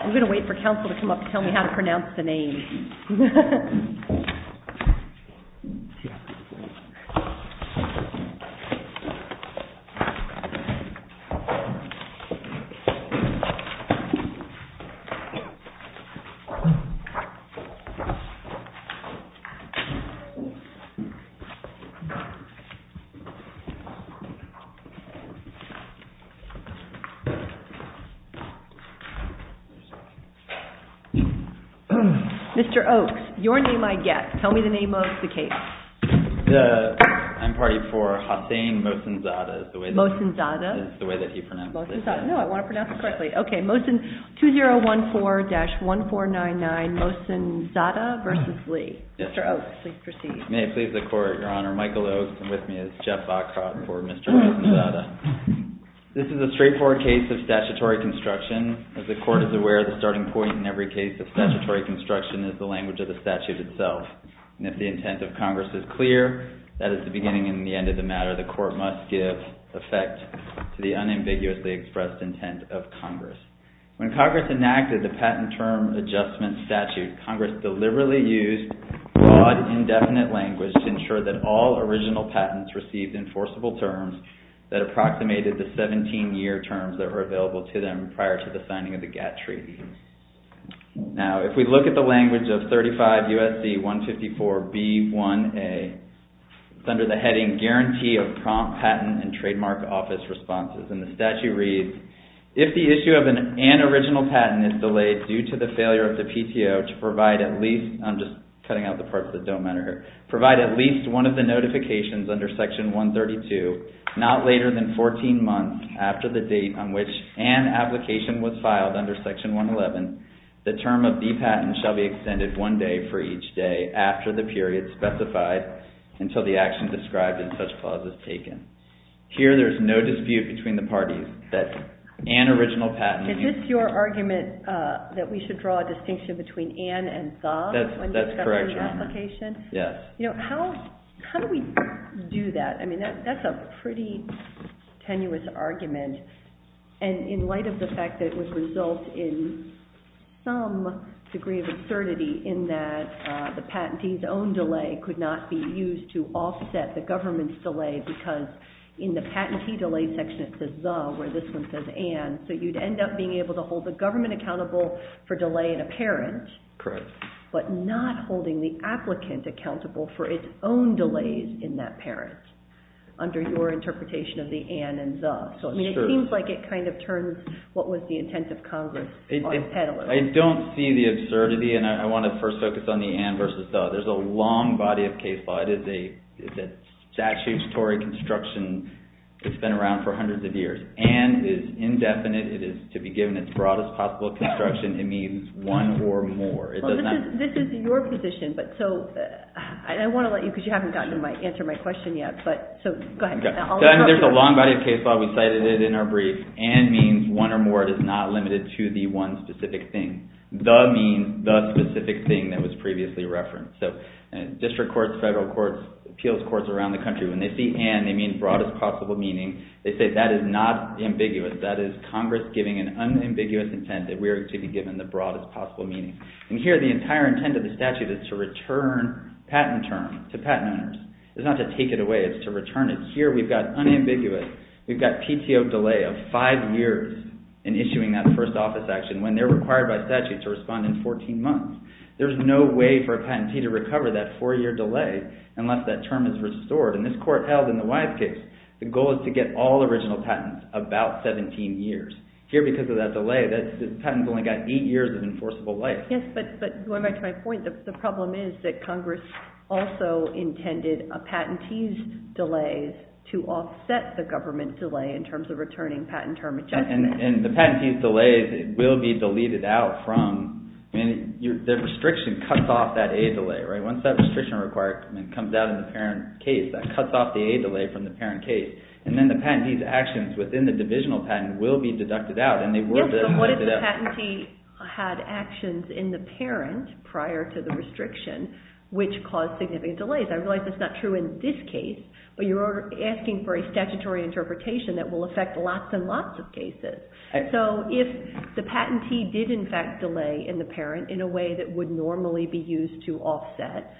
I'm going to wait for counsel to come up and tell me how to pronounce the name. Mr. Oaks, your name I get. Tell me the name of the case. I'm party for Hossain Mosenzadeh. Mosenzadeh? That's the way that he pronounced it. Mosenzadeh. No, I want to pronounce it correctly. Okay. Mosenzadeh v. Lee. Yes. Mr. Oaks, please proceed. May it please the Court, Your Honor. Michael Oaks, and with me is Jeff Bacot for Mr. Mosenzadeh. This is a straightforward case of statutory construction. As the Court is aware, the starting point in every case of statutory construction is the language of the statute itself. And if the intent of Congress is clear, that is the beginning and the end of the matter. The Court must give effect to the unambiguously expressed intent of Congress. When Congress enacted the Patent Term Adjustment Statute, Congress deliberately used broad, indefinite language to ensure that all original patents received enforceable terms that approximated the 17-year terms that were available to them prior to the signing of the GATT Treaty. Now, if we look at the language of 35 U.S.C. 154b1a, it's under the heading Guarantee of Prompt Patent and Trademark Office Responses. And the statute reads, If the issue of an unoriginal patent is delayed due to the failure of the PTO to provide at least, I'm just cutting out the parts that don't matter here, provide at least one of the notifications under Section 132, not later than 14 months after the date on which an application was filed under Section 111, the term of the patent shall be extended one day for each day after the period specified until the action described in such clause is taken. Here, there's no dispute between the parties that an original patent Is this your argument that we should draw a distinction between an and the? That's correct. When discussing the application? Yes. You know, how do we do that? I mean, that's a pretty tenuous argument. And in light of the fact that it would result in some degree of absurdity in that the patentee's own delay could not be used to offset the government's delay because in the patentee delay section, it says the, where this one says and. Correct. But not holding the applicant accountable for its own delays in that parent under your interpretation of the and and the. So, I mean, it seems like it kind of turns what was the intent of Congress. I don't see the absurdity, and I want to first focus on the and versus the. There's a long body of case law. It is a statutory construction that's been around for hundreds of years and is indefinite. It is to be given its broadest possible construction. It means one or more. This is your position, but so I want to let you, because you haven't gotten to answer my question yet, but so go ahead. There's a long body of case law. We cited it in our brief. And means one or more. It is not limited to the one specific thing. The means the specific thing that was previously referenced. So district courts, federal courts, appeals courts around the country, when they see and, they mean broadest possible meaning. They say that is not ambiguous. That is Congress giving an unambiguous intent that we are to be given the broadest possible meaning. And here the entire intent of the statute is to return patent terms to patent owners. It's not to take it away. It's to return it. Here we've got unambiguous. We've got PTO delay of five years in issuing that first office action when they're required by statute to respond in 14 months. There's no way for a patentee to recover that four-year delay unless that term is restored. And this court held in the Wise case, the goal is to get all original patents about 17 years. Here because of that delay, the patent's only got eight years of enforceable life. Yes, but going back to my point, the problem is that Congress also intended a patentee's delay to offset the government's delay in terms of returning patent term adjustment. And the patentee's delay will be deleted out from, the restriction cuts off that A delay, right? Once that restriction comes out in the parent case, that cuts off the A delay from the parent case. And then the patentee's actions within the divisional patent will be deducted out. What if the patentee had actions in the parent prior to the restriction which caused significant delays? I realize that's not true in this case, but you're asking for a statutory interpretation that will affect lots and lots of cases. So if the patentee did in fact delay in the parent in a way that would normally be used to offset.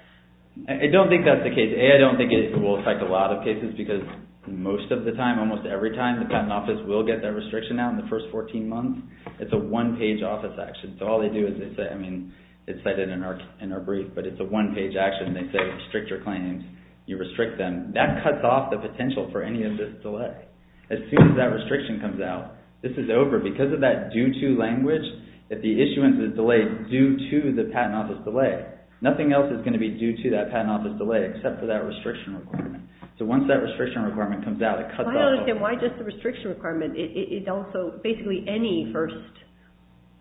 I don't think that's the case. A, I don't think it will affect a lot of cases because most of the time, almost every time, the patent office will get that restriction out in the first 14 months. It's a one-page office action. So all they do is they say, I mean, it's cited in our brief, but it's a one-page action. They say restrict your claims. You restrict them. That cuts off the potential for any of this delay. As soon as that restriction comes out, this is over. Because of that due-to language, if the issuance is delayed due to the patent office delay, nothing else is going to be due to that patent office delay except for that restriction requirement. So once that restriction requirement comes out, it cuts off. I don't understand why just the restriction requirement. It's also basically any first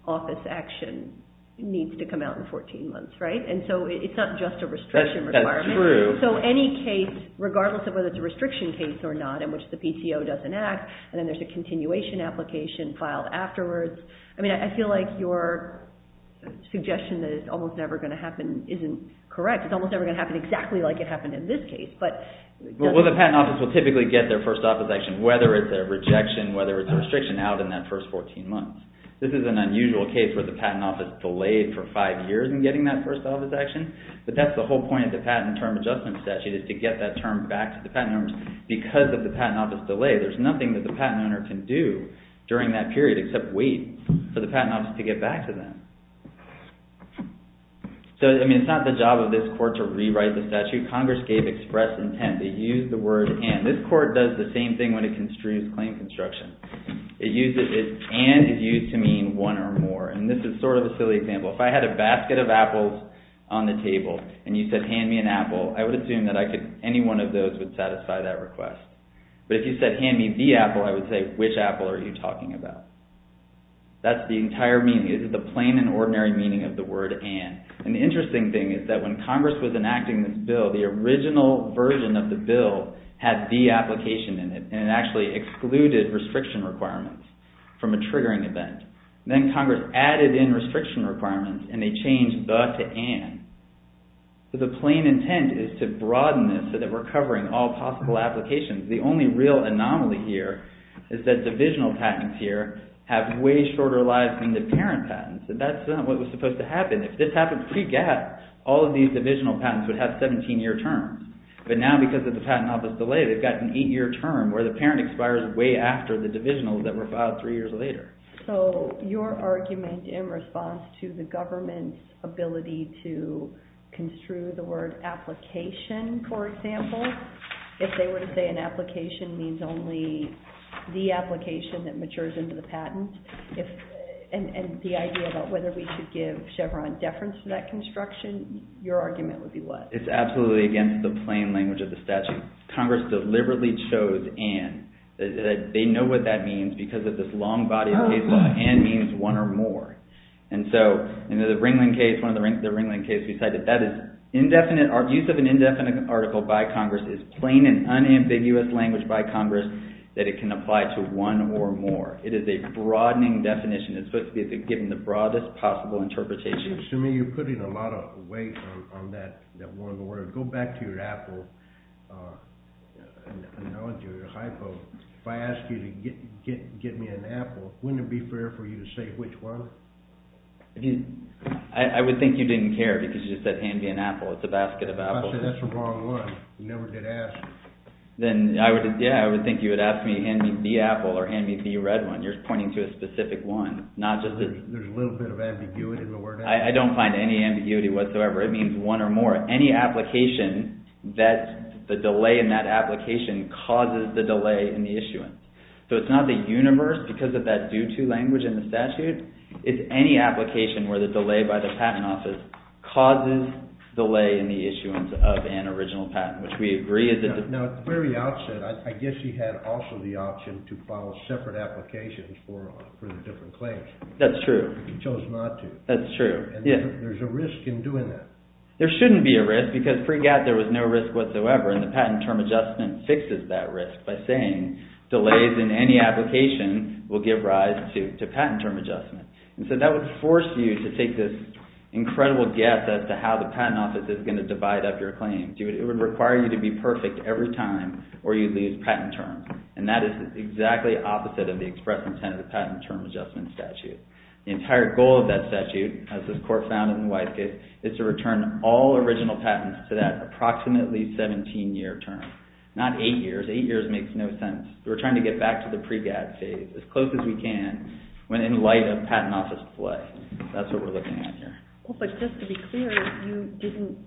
office action needs to come out in 14 months, right? And so it's not just a restriction requirement. That's true. So any case, regardless of whether it's a restriction case or not in which the PCO doesn't act, and then there's a continuation application filed afterwards. I mean, I feel like your suggestion that it's almost never going to happen isn't correct. It's almost never going to happen exactly like it happened in this case. Well, the patent office will typically get their first office action, whether it's a rejection, whether it's a restriction, out in that first 14 months. This is an unusual case where the patent office delayed for five years in getting that first office action. But that's the whole point of the Patent and Term Adjustment Statute is to get that term back to the patent owners. Because of the patent office delay, there's nothing that the patent owner can do during that period except wait for the patent office to get back to them. So, I mean, it's not the job of this court to rewrite the statute. Congress gave express intent. They used the word, and. This court does the same thing when it construes claim construction. It uses, and is used to mean one or more. And this is sort of a silly example. If I had a basket of apples on the table, and you said, hand me an apple, I would assume that any one of those would satisfy that request. But if you said, hand me the apple, I would say, which apple are you talking about? That's the entire meaning. The only thing is the plain and ordinary meaning of the word, and. And the interesting thing is that when Congress was enacting this bill, the original version of the bill had the application in it, and it actually excluded restriction requirements from a triggering event. Then Congress added in restriction requirements, and they changed the to and. So the plain intent is to broaden this so that we're covering all possible applications. The only real anomaly here is that divisional patents here have way shorter lives than the parent patents, and that's not what was supposed to happen. If this happened pre-gap, all of these divisional patents would have 17-year terms. But now because of the patent office delay, they've got an eight-year term where the parent expires way after the divisionals that were filed three years later. So your argument in response to the government's ability to construe the word application, for example, if they were to say an application means only the application that matures into the patent, and the idea about whether we should give Chevron deference to that construction, your argument would be what? It's absolutely against the plain language of the statute. Congress deliberately chose an. They know what that means because of this long body of case law. An means one or more. And so in the Ringling case, one of the Ringling cases, we said that use of an indefinite article by Congress is plain and unambiguous language by Congress that it can apply to one or more. It is a broadening definition. It's supposed to be given the broadest possible interpretation. Assuming you're putting a lot of weight on that one word, go back to your apple analogy or your hypo. If I asked you to get me an apple, wouldn't it be fair for you to say which one? I would think you didn't care because you just said, hand me an apple. It's a basket of apples. That's the wrong one. You never did ask. Yeah, I would think you would ask me, hand me the apple or hand me the red one. You're pointing to a specific one. There's a little bit of ambiguity in the word apple. I don't find any ambiguity whatsoever. It means one or more. Any application that the delay in that application causes the delay in the issuance. So it's not the universe because of that due to language in the statute. It's any application where the delay by the patent office causes delay in the issuance of an original patent, which we agree. At the very outset, I guess you had also the option to file separate applications for the different claims. That's true. You chose not to. That's true. There's a risk in doing that. There shouldn't be a risk because pre-GAT there was no risk whatsoever and the patent term adjustment fixes that risk by saying delays in any application will give rise to patent term adjustment. So that would force you to take this incredible guess as to how the patent office is going to divide up your claims. It would require you to be perfect every time or you'd lose patent terms. And that is exactly opposite of the express intent of the patent term adjustment statute. The entire goal of that statute, as this court found it in Wyeth's case, is to return all original patents to that approximately 17-year term. Not eight years. Eight years makes no sense. We're trying to get back to the pre-GAT phase as close as we can when in light of patent office delay. That's what we're looking at here. Well, but just to be clear, you didn't...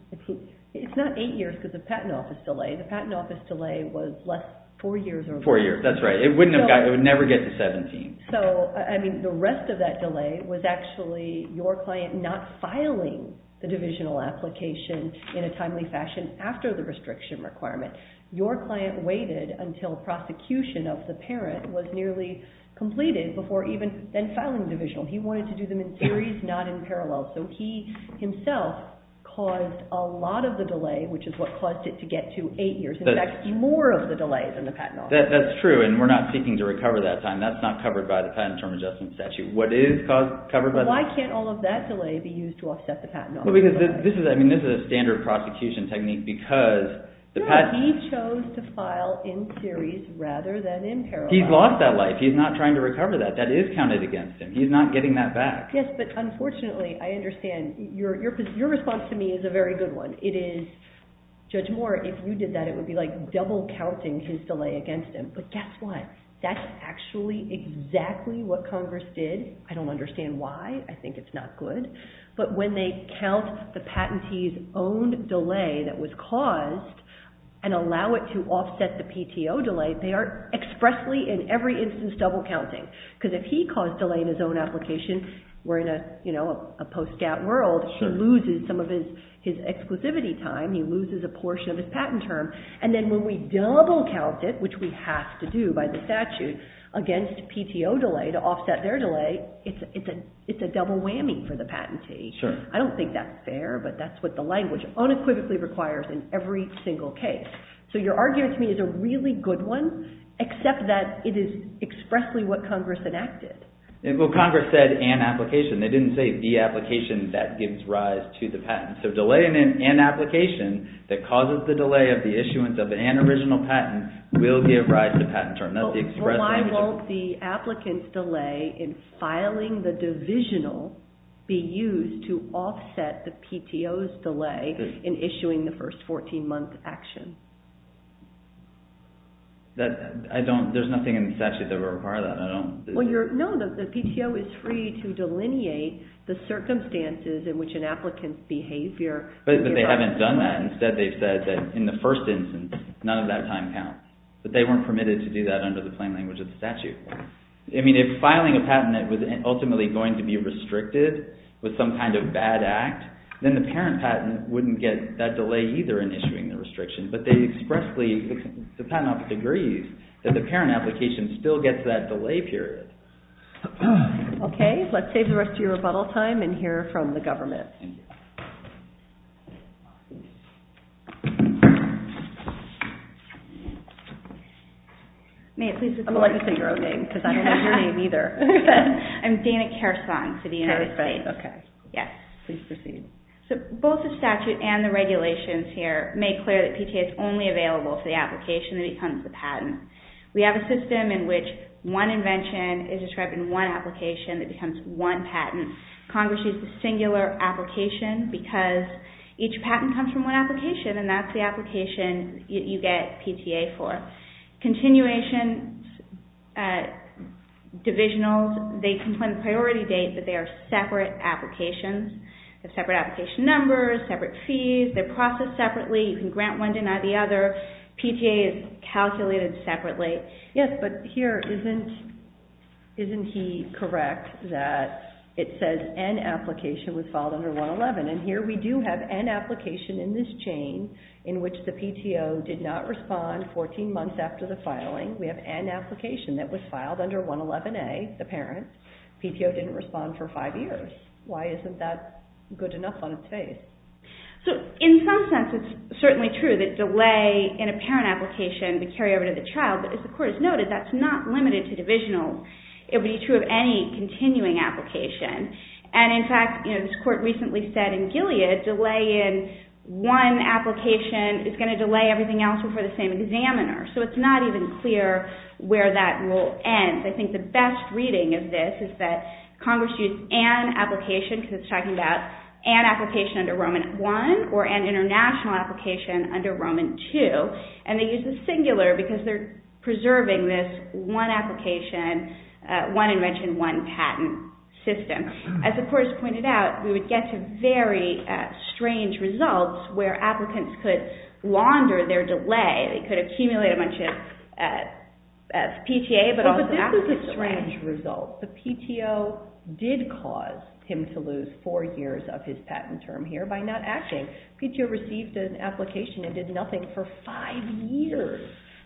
It's not eight years because of patent office delay. The patent office delay was less four years or more. Four years, that's right. It would never get to 17. So, I mean, the rest of that delay was actually your client not filing the divisional application in a timely fashion after the restriction requirement. Your client waited until prosecution of the parent was nearly completed before even then filing divisional. He wanted to do them in series, not in parallel. So he himself caused a lot of the delay, which is what caused it to get to eight years. In fact, more of the delay than the patent office delay. That's true, and we're not seeking to recover that time. That's not covered by the patent term adjustment statute. What is covered by that? Why can't all of that delay be used to offset the patent office delay? Well, because this is a standard prosecution technique because the patent... No, he chose to file in series rather than in parallel. He's lost that life. He's not trying to recover that. That is counted against him. He's not getting that back. Yes, but unfortunately, I understand. Your response to me is a very good one. It is, Judge Moore, if you did that, it would be like double-counting his delay against him. But guess what? That's actually exactly what Congress did. I don't understand why. I think it's not good. But when they count the patentee's own delay that was caused and allow it to offset the PTO delay, they are expressly, in every instance, double-counting because if he caused delay in his own application, we're in a post-GATT world, he loses some of his exclusivity time. He loses a portion of his patent term. And then when we double-count it, which we have to do by the statute, against PTO delay to offset their delay, it's a double whammy for the patentee. I don't think that's fair, but that's what the language unequivocally requires in every single case. So your argument to me is a really good one, except that it is expressly what Congress enacted. Well, Congress said an application. They didn't say the application that gives rise to the patent. So delaying an application that causes the delay of the issuance of an original patent will give rise to patent term. Why won't the applicant's delay in filing the divisional be used to offset the PTO's delay in issuing the first 14-month action? There's nothing in the statute that would require that. No, the PTO is free to delineate the circumstances in which an applicant's behavior... But they haven't done that. Instead, they've said that in the first instance, none of that time counts. But they weren't permitted to do that under the plain language of the statute. I mean, if filing a patent that was ultimately going to be restricted with some kind of bad act, then the parent patent wouldn't get that delay either in issuing the restriction. But they expressly, the patent office agrees, that the parent application still gets that delay period. Okay, let's save the rest of your rebuttal time and hear from the government. Thank you. I'm going to let you say your own name because I don't know your name either. I'm Dana Kersong for the United States. Kersong, okay. Yes. Please proceed. So both the statute and the regulations here make clear that PTA is only available for the application that becomes the patent. We have a system in which one invention is described in one application that becomes one patent. Congress uses the singular application because each patent comes from one application and that's the application you get PTA for. Continuation divisionals, they complain the priority date but they are separate applications. They have separate application numbers, separate fees. They're processed separately. You can grant one, deny the other. PTA is calculated separately. Yes, but here isn't he correct that it says an application was filed under 111 and here we do have an application in this chain in which the PTO did not respond 14 months after the filing. We have an application that was filed under 111A, the parent. PTO didn't respond for five years. Why isn't that good enough on its face? In some sense, it's certainly true that delay in a parent application would carry over to the child. But as the Court has noted, that's not limited to divisionals. It would be true of any continuing application. And in fact, as the Court recently said in Gilead, delay in one application is going to delay everything else before the same examiner. So it's not even clear where that rule ends. I think the best reading of this is that Congress used an application because it's talking about an application under Roman I or an international application under Roman II. And they use the singular because they're preserving this one application, one invention, one patent system. As the Court has pointed out, we would get some very strange results where applicants could launder their delay. They could accumulate a bunch of PTA, but also an application. But PTO did cause him to lose four years of his patent term here by not acting. PTO received an application and did nothing for five years.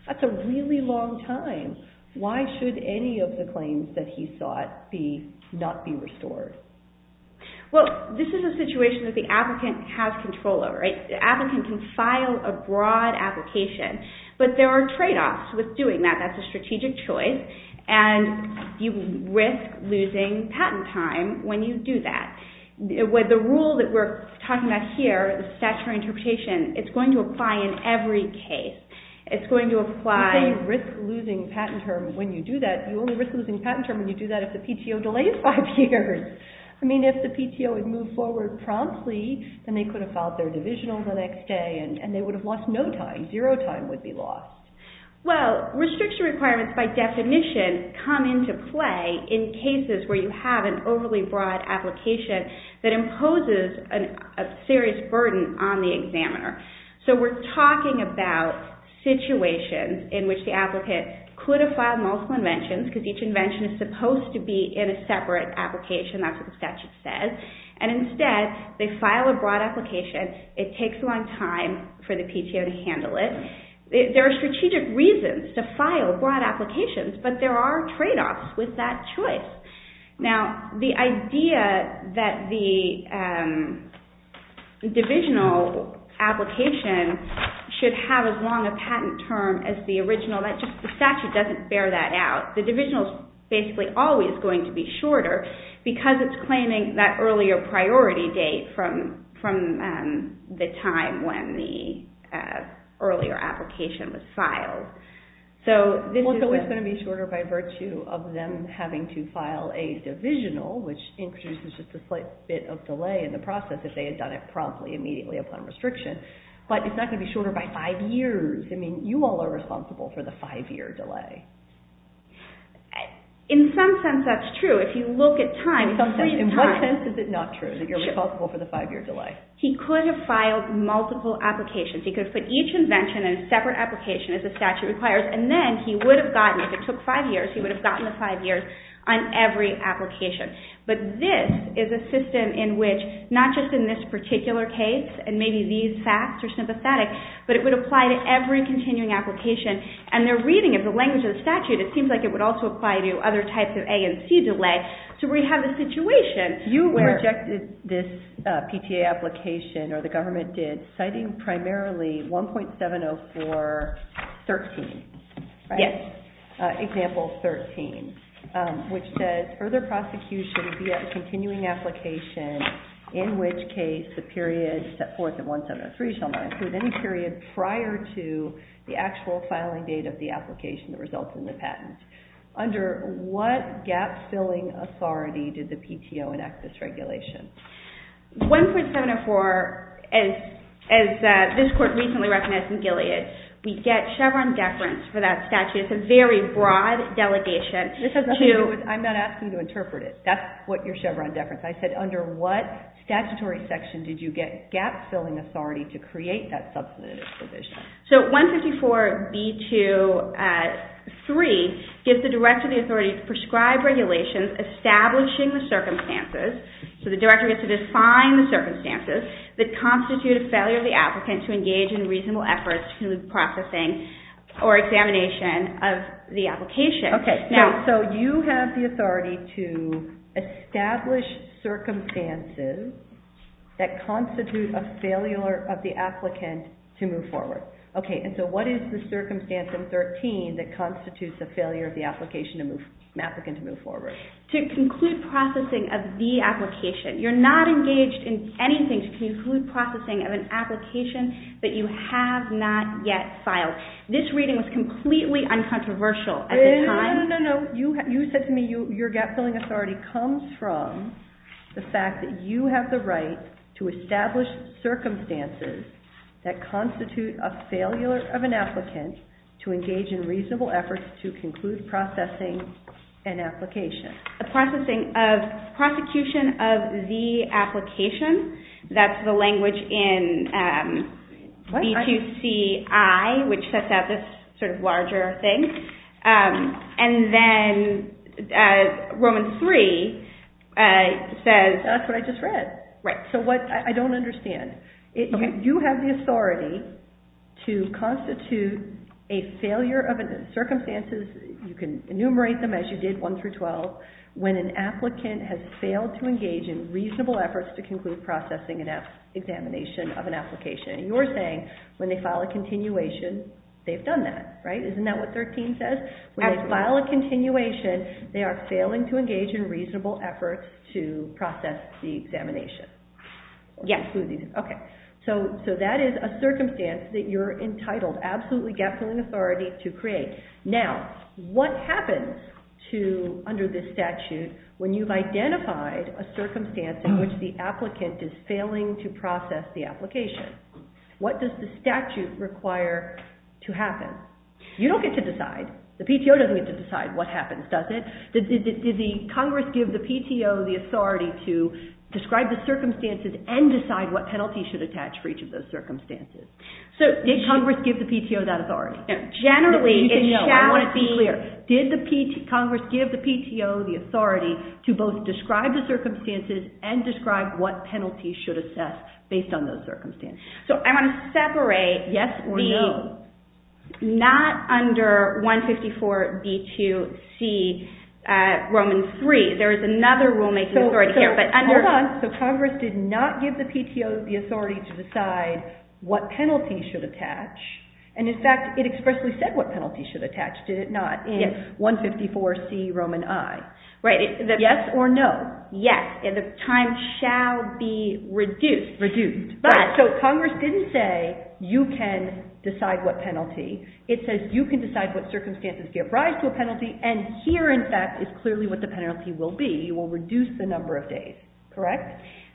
That's a really long time. Why should any of the claims that he sought not be restored? Well, this is a situation that the applicant has control over. The applicant can file a broad application, but there are trade-offs with doing that. That's a strategic choice. And you risk losing patent time when you do that. The rule that we're talking about here, the statutory interpretation, it's going to apply in every case. It's going to apply... You say you risk losing patent term when you do that. You only risk losing patent term when you do that if the PTO delays five years. I mean, if the PTO had moved forward promptly, then they could have filed their divisional the next day and they would have lost no time. Zero time would be lost. Well, restriction requirements, by definition, come into play in cases where you have an overly broad application that imposes a serious burden on the examiner. So we're talking about situations in which the applicant could have filed multiple inventions because each invention is supposed to be in a separate application. That's what the statute says. And instead, they file a broad application. It takes a long time for the PTO to handle it. There are strategic reasons to file broad applications, but there are trade-offs with that choice. Now, the idea that the divisional application should have as long a patent term as the original, the statute doesn't bear that out. The divisional is basically always going to be shorter because it's claiming that earlier priority date is from the time when the earlier application was filed. Well, so it's going to be shorter by virtue of them having to file a divisional, which introduces just a slight bit of delay in the process if they had done it promptly, immediately upon restriction. But it's not going to be shorter by five years. I mean, you all are responsible for the five-year delay. In some sense, that's true. If you look at time... In what sense is it not true that you're responsible for the five-year delay? He could have filed multiple applications. He could have put each invention in a separate application, as the statute requires, and then he would have gotten, if it took five years, he would have gotten the five years on every application. But this is a system in which, not just in this particular case, and maybe these facts are sympathetic, but it would apply to every continuing application. And they're reading it. The language of the statute, it seems like it would also apply to other types of A and C delay. So we have a situation where... You rejected this PTA application, or the government did, citing primarily 1.704.13, right? Yes. Example 13, which says, Further prosecution via a continuing application in which case the period set forth in 1.703 shall not include any period prior to the actual filing date of the application that results in the patent. Under what gap-filling authority did the PTO enact this regulation? 1.704, as this Court recently recognized in Gilead, we get Chevron deference for that statute. It's a very broad delegation. I'm not asking you to interpret it. That's what your Chevron deference is. I said, under what statutory section did you get gap-filling authority to create that substantive provision? So 154.b.2.3 gives the director the authority to prescribe regulations establishing the circumstances, so the director gets to define the circumstances, that constitute a failure of the applicant to engage in reasonable efforts to conclude the processing or examination of the application. So you have the authority to establish circumstances that constitute a failure of the applicant to move forward. Okay, and so what is the circumstance in 13 that constitutes a failure of the application of the applicant to move forward? To conclude processing of the application. You're not engaged in anything to conclude processing of an application that you have not yet filed. This reading was completely uncontroversial at the time. No, no, no. You said to me your gap-filling authority comes from the fact that you have the right to establish circumstances that constitute a failure of an applicant to engage in reasonable efforts to conclude processing an application. The processing of prosecution of the application. That's the language in B2C-I, which sets out this sort of larger thing. And then Romans 3 says... That's what I just read. Right. I don't understand. You have the authority to constitute a failure of circumstances. You can enumerate them as you did, 1 through 12. When an applicant has failed to engage in reasonable efforts to conclude processing an examination of an application. You're saying when they file a continuation, they've done that, right? Isn't that what 13 says? When they file a continuation, they are failing to engage in reasonable efforts to process the examination. Yes. Okay. So that is a circumstance that you're entitled, absolutely gap-filling authority to create. Now, what happens under this statute when you've identified a circumstance in which the applicant is failing to process the application? What does the statute require to happen? You don't get to decide. The PTO doesn't get to decide what happens, does it? Did the Congress give the PTO the authority to describe the circumstances and decide what penalty should attach for each of those circumstances? Did Congress give the PTO that authority? Generally, it shall be... I want to be clear. Did Congress give the PTO the authority to both describe the circumstances and describe what penalty should assess based on those circumstances? So I want to separate... Yes or no. Not under 154b2c Roman III. There is another rule-making authority here. Hold on. So Congress did not give the PTO the authority to decide what penalty should attach. And, in fact, it expressly said what penalty should attach, did it not, in 154c Roman I? Right. Yes or no? Yes. The time shall be reduced. Reduced. So Congress didn't say, you can decide what penalty. It says, you can decide what circumstances give rise to a penalty. And here, in fact, is clearly what the penalty will be. You will reduce the number of days. Correct?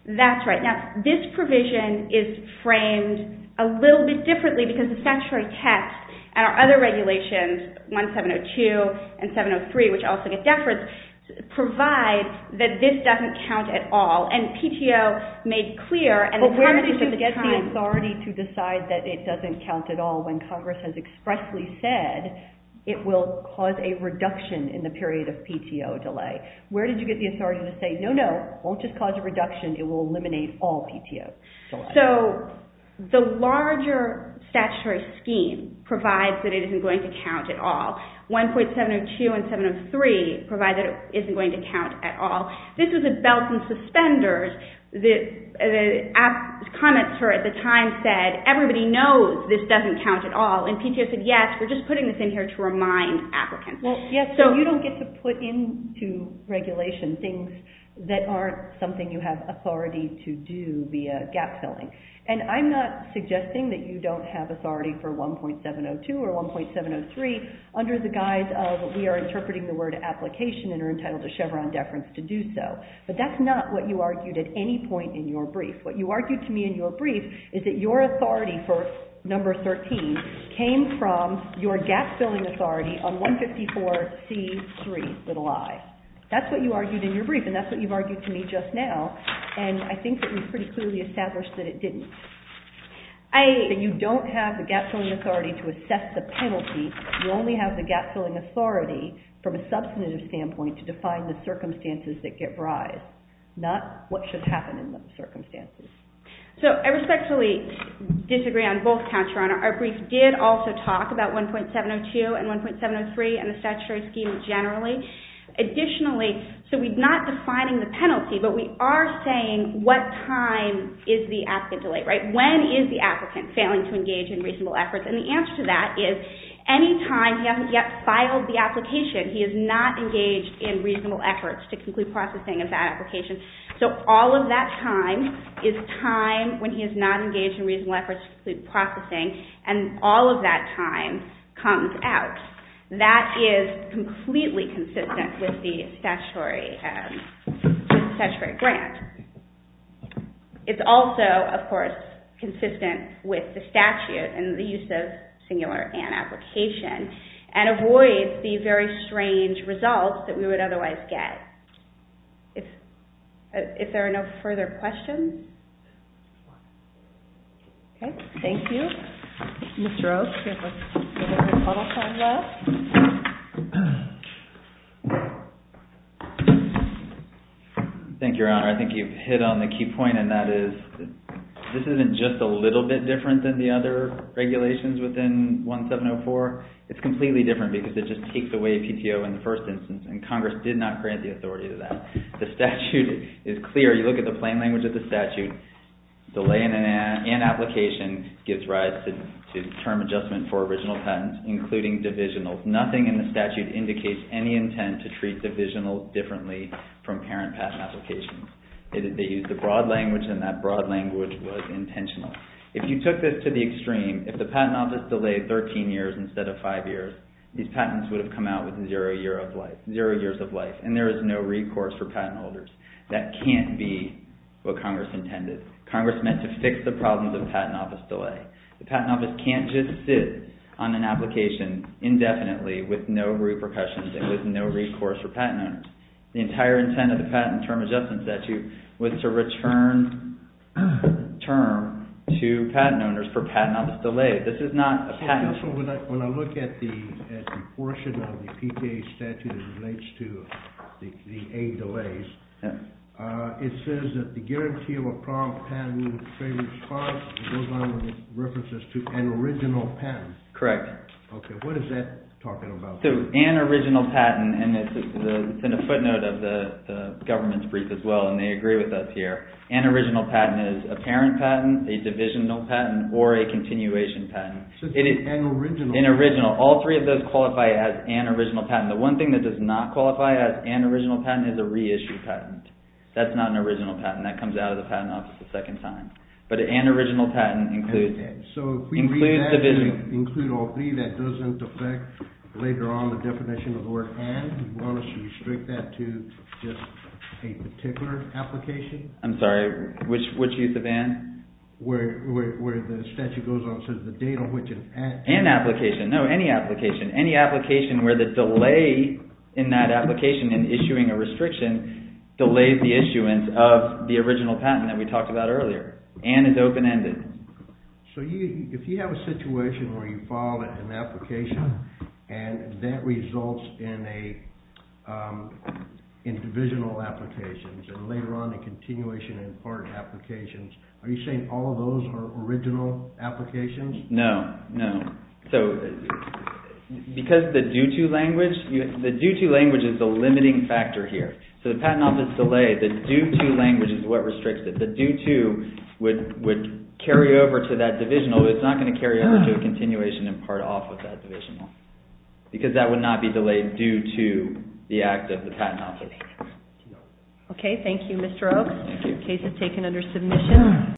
That's right. Now, this provision is framed a little bit differently because the statutory text and our other regulations, 1702 and 703, which also get deference, provide that this doesn't count at all. And PTO made clear... But where did you get the authority to decide that it doesn't count at all when Congress has expressly said it will cause a reduction in the period of PTO delay? Where did you get the authority to say, no, no, it won't just cause a reduction, it will eliminate all PTOs? So the larger statutory scheme provides that it isn't going to count at all. 1.702 and 703 provide that it isn't going to count at all. This is a belt and suspenders that the comments at the time said, everybody knows this doesn't count at all. And PTO said, yes, we're just putting this in here to remind applicants. Yes, so you don't get to put into regulation things that aren't something you have authority to do via gap-filling. And I'm not suggesting that you don't have authority for 1.702 or 1.703 under the guise of we are interpreting the word application and are entitled to Chevron deference to do so. But that's not what you argued at any point in your brief. What you argued to me in your brief is that your authority for number 13 came from your gap-filling authority on 154C3i. That's what you argued in your brief and that's what you've argued to me just now. And I think it was pretty clearly established that it didn't. So you don't have the gap-filling authority to assess the penalty. You only have the gap-filling authority from a substantive standpoint to define the circumstances that give rise, not what should happen in those circumstances. So I respectfully disagree on both counts, Your Honor. Our brief did also talk about 1.702 and 1.703 and the statutory scheme generally. Additionally, so we're not defining the penalty, but we are saying what time is the applicant delayed, right? When is the applicant failing to engage in reasonable efforts? And the answer to that is any time he hasn't yet filed the application, he is not engaged in reasonable efforts to complete processing of that application. So all of that time is time when he is not engaged in reasonable efforts to complete processing and all of that time comes out. That is completely consistent with the statutory grant. It's also, of course, consistent with the statute and the use of singular and application and avoids the very strange results that we would otherwise get. If there are no further questions. Okay, thank you. Mr. Oaks, you have a little time left. Thank you, Your Honor. I think you've hit on the key point and that is this isn't just a little bit different than the other regulations within 1.704. It's completely different because it just takes away PTO in the first instance and Congress did not grant the authority to that. The statute is clear. You look at the plain language of the statute. Delay in an application gives rise to term adjustment for original patents, including divisionals. Nothing in the statute indicates any intent to treat divisionals differently from parent patent applications. They use the broad language and that broad language was intentional. If you took this to the extreme, if the patent office delayed 13 years instead of five years, these patents would have come out with zero years of life and there is no recourse for patent holders. That can't be what Congress intended. Congress meant to fix the problems of patent office delay. The patent office can't just sit on an application indefinitely with no repercussions and with no recourse for patent owners. The entire intent of the patent term adjustment statute was to return term to patent owners for patent office delay. This is not a patent. When I look at the portion of the PTA statute that relates to the aid delays, it says that the guarantee of a prompt patent with free response goes on with references to an original patent. Correct. What is that talking about? An original patent and it's in a footnote of the government's brief as well and they agree with us here. An original patent is a parent patent, a divisional patent, or a continuation patent. It is an original. An original. All three of those qualify as an original patent. The one thing that does not qualify as an original patent is a reissued patent. That's not an original patent. That comes out of the patent office a second time. But an original patent includes it. So if we include all three, that doesn't affect later on the definition of the word and. Do you want us to restrict that to just a particular application? I'm sorry. Which use of and? Where the statute goes on, so the date on which an and. An application. No, any application. Any application where the delay in that application in issuing a restriction delays the issuance of the original patent that we talked about earlier and is open-ended. So if you have a situation where you file an application and that results in divisional applications and later on a continuation in part applications, are you saying all of those are original applications? No, no. So because the due-to language, the due-to language is the limiting factor here. So the patent office delay, the due-to language is what restricts it. The due-to would carry over to that divisional, but it's not going to carry over to a continuation in part off of that divisional because that would not be delayed due to the act of the patent office. Okay, thank you, Mr. Oaks. The case is taken under submission.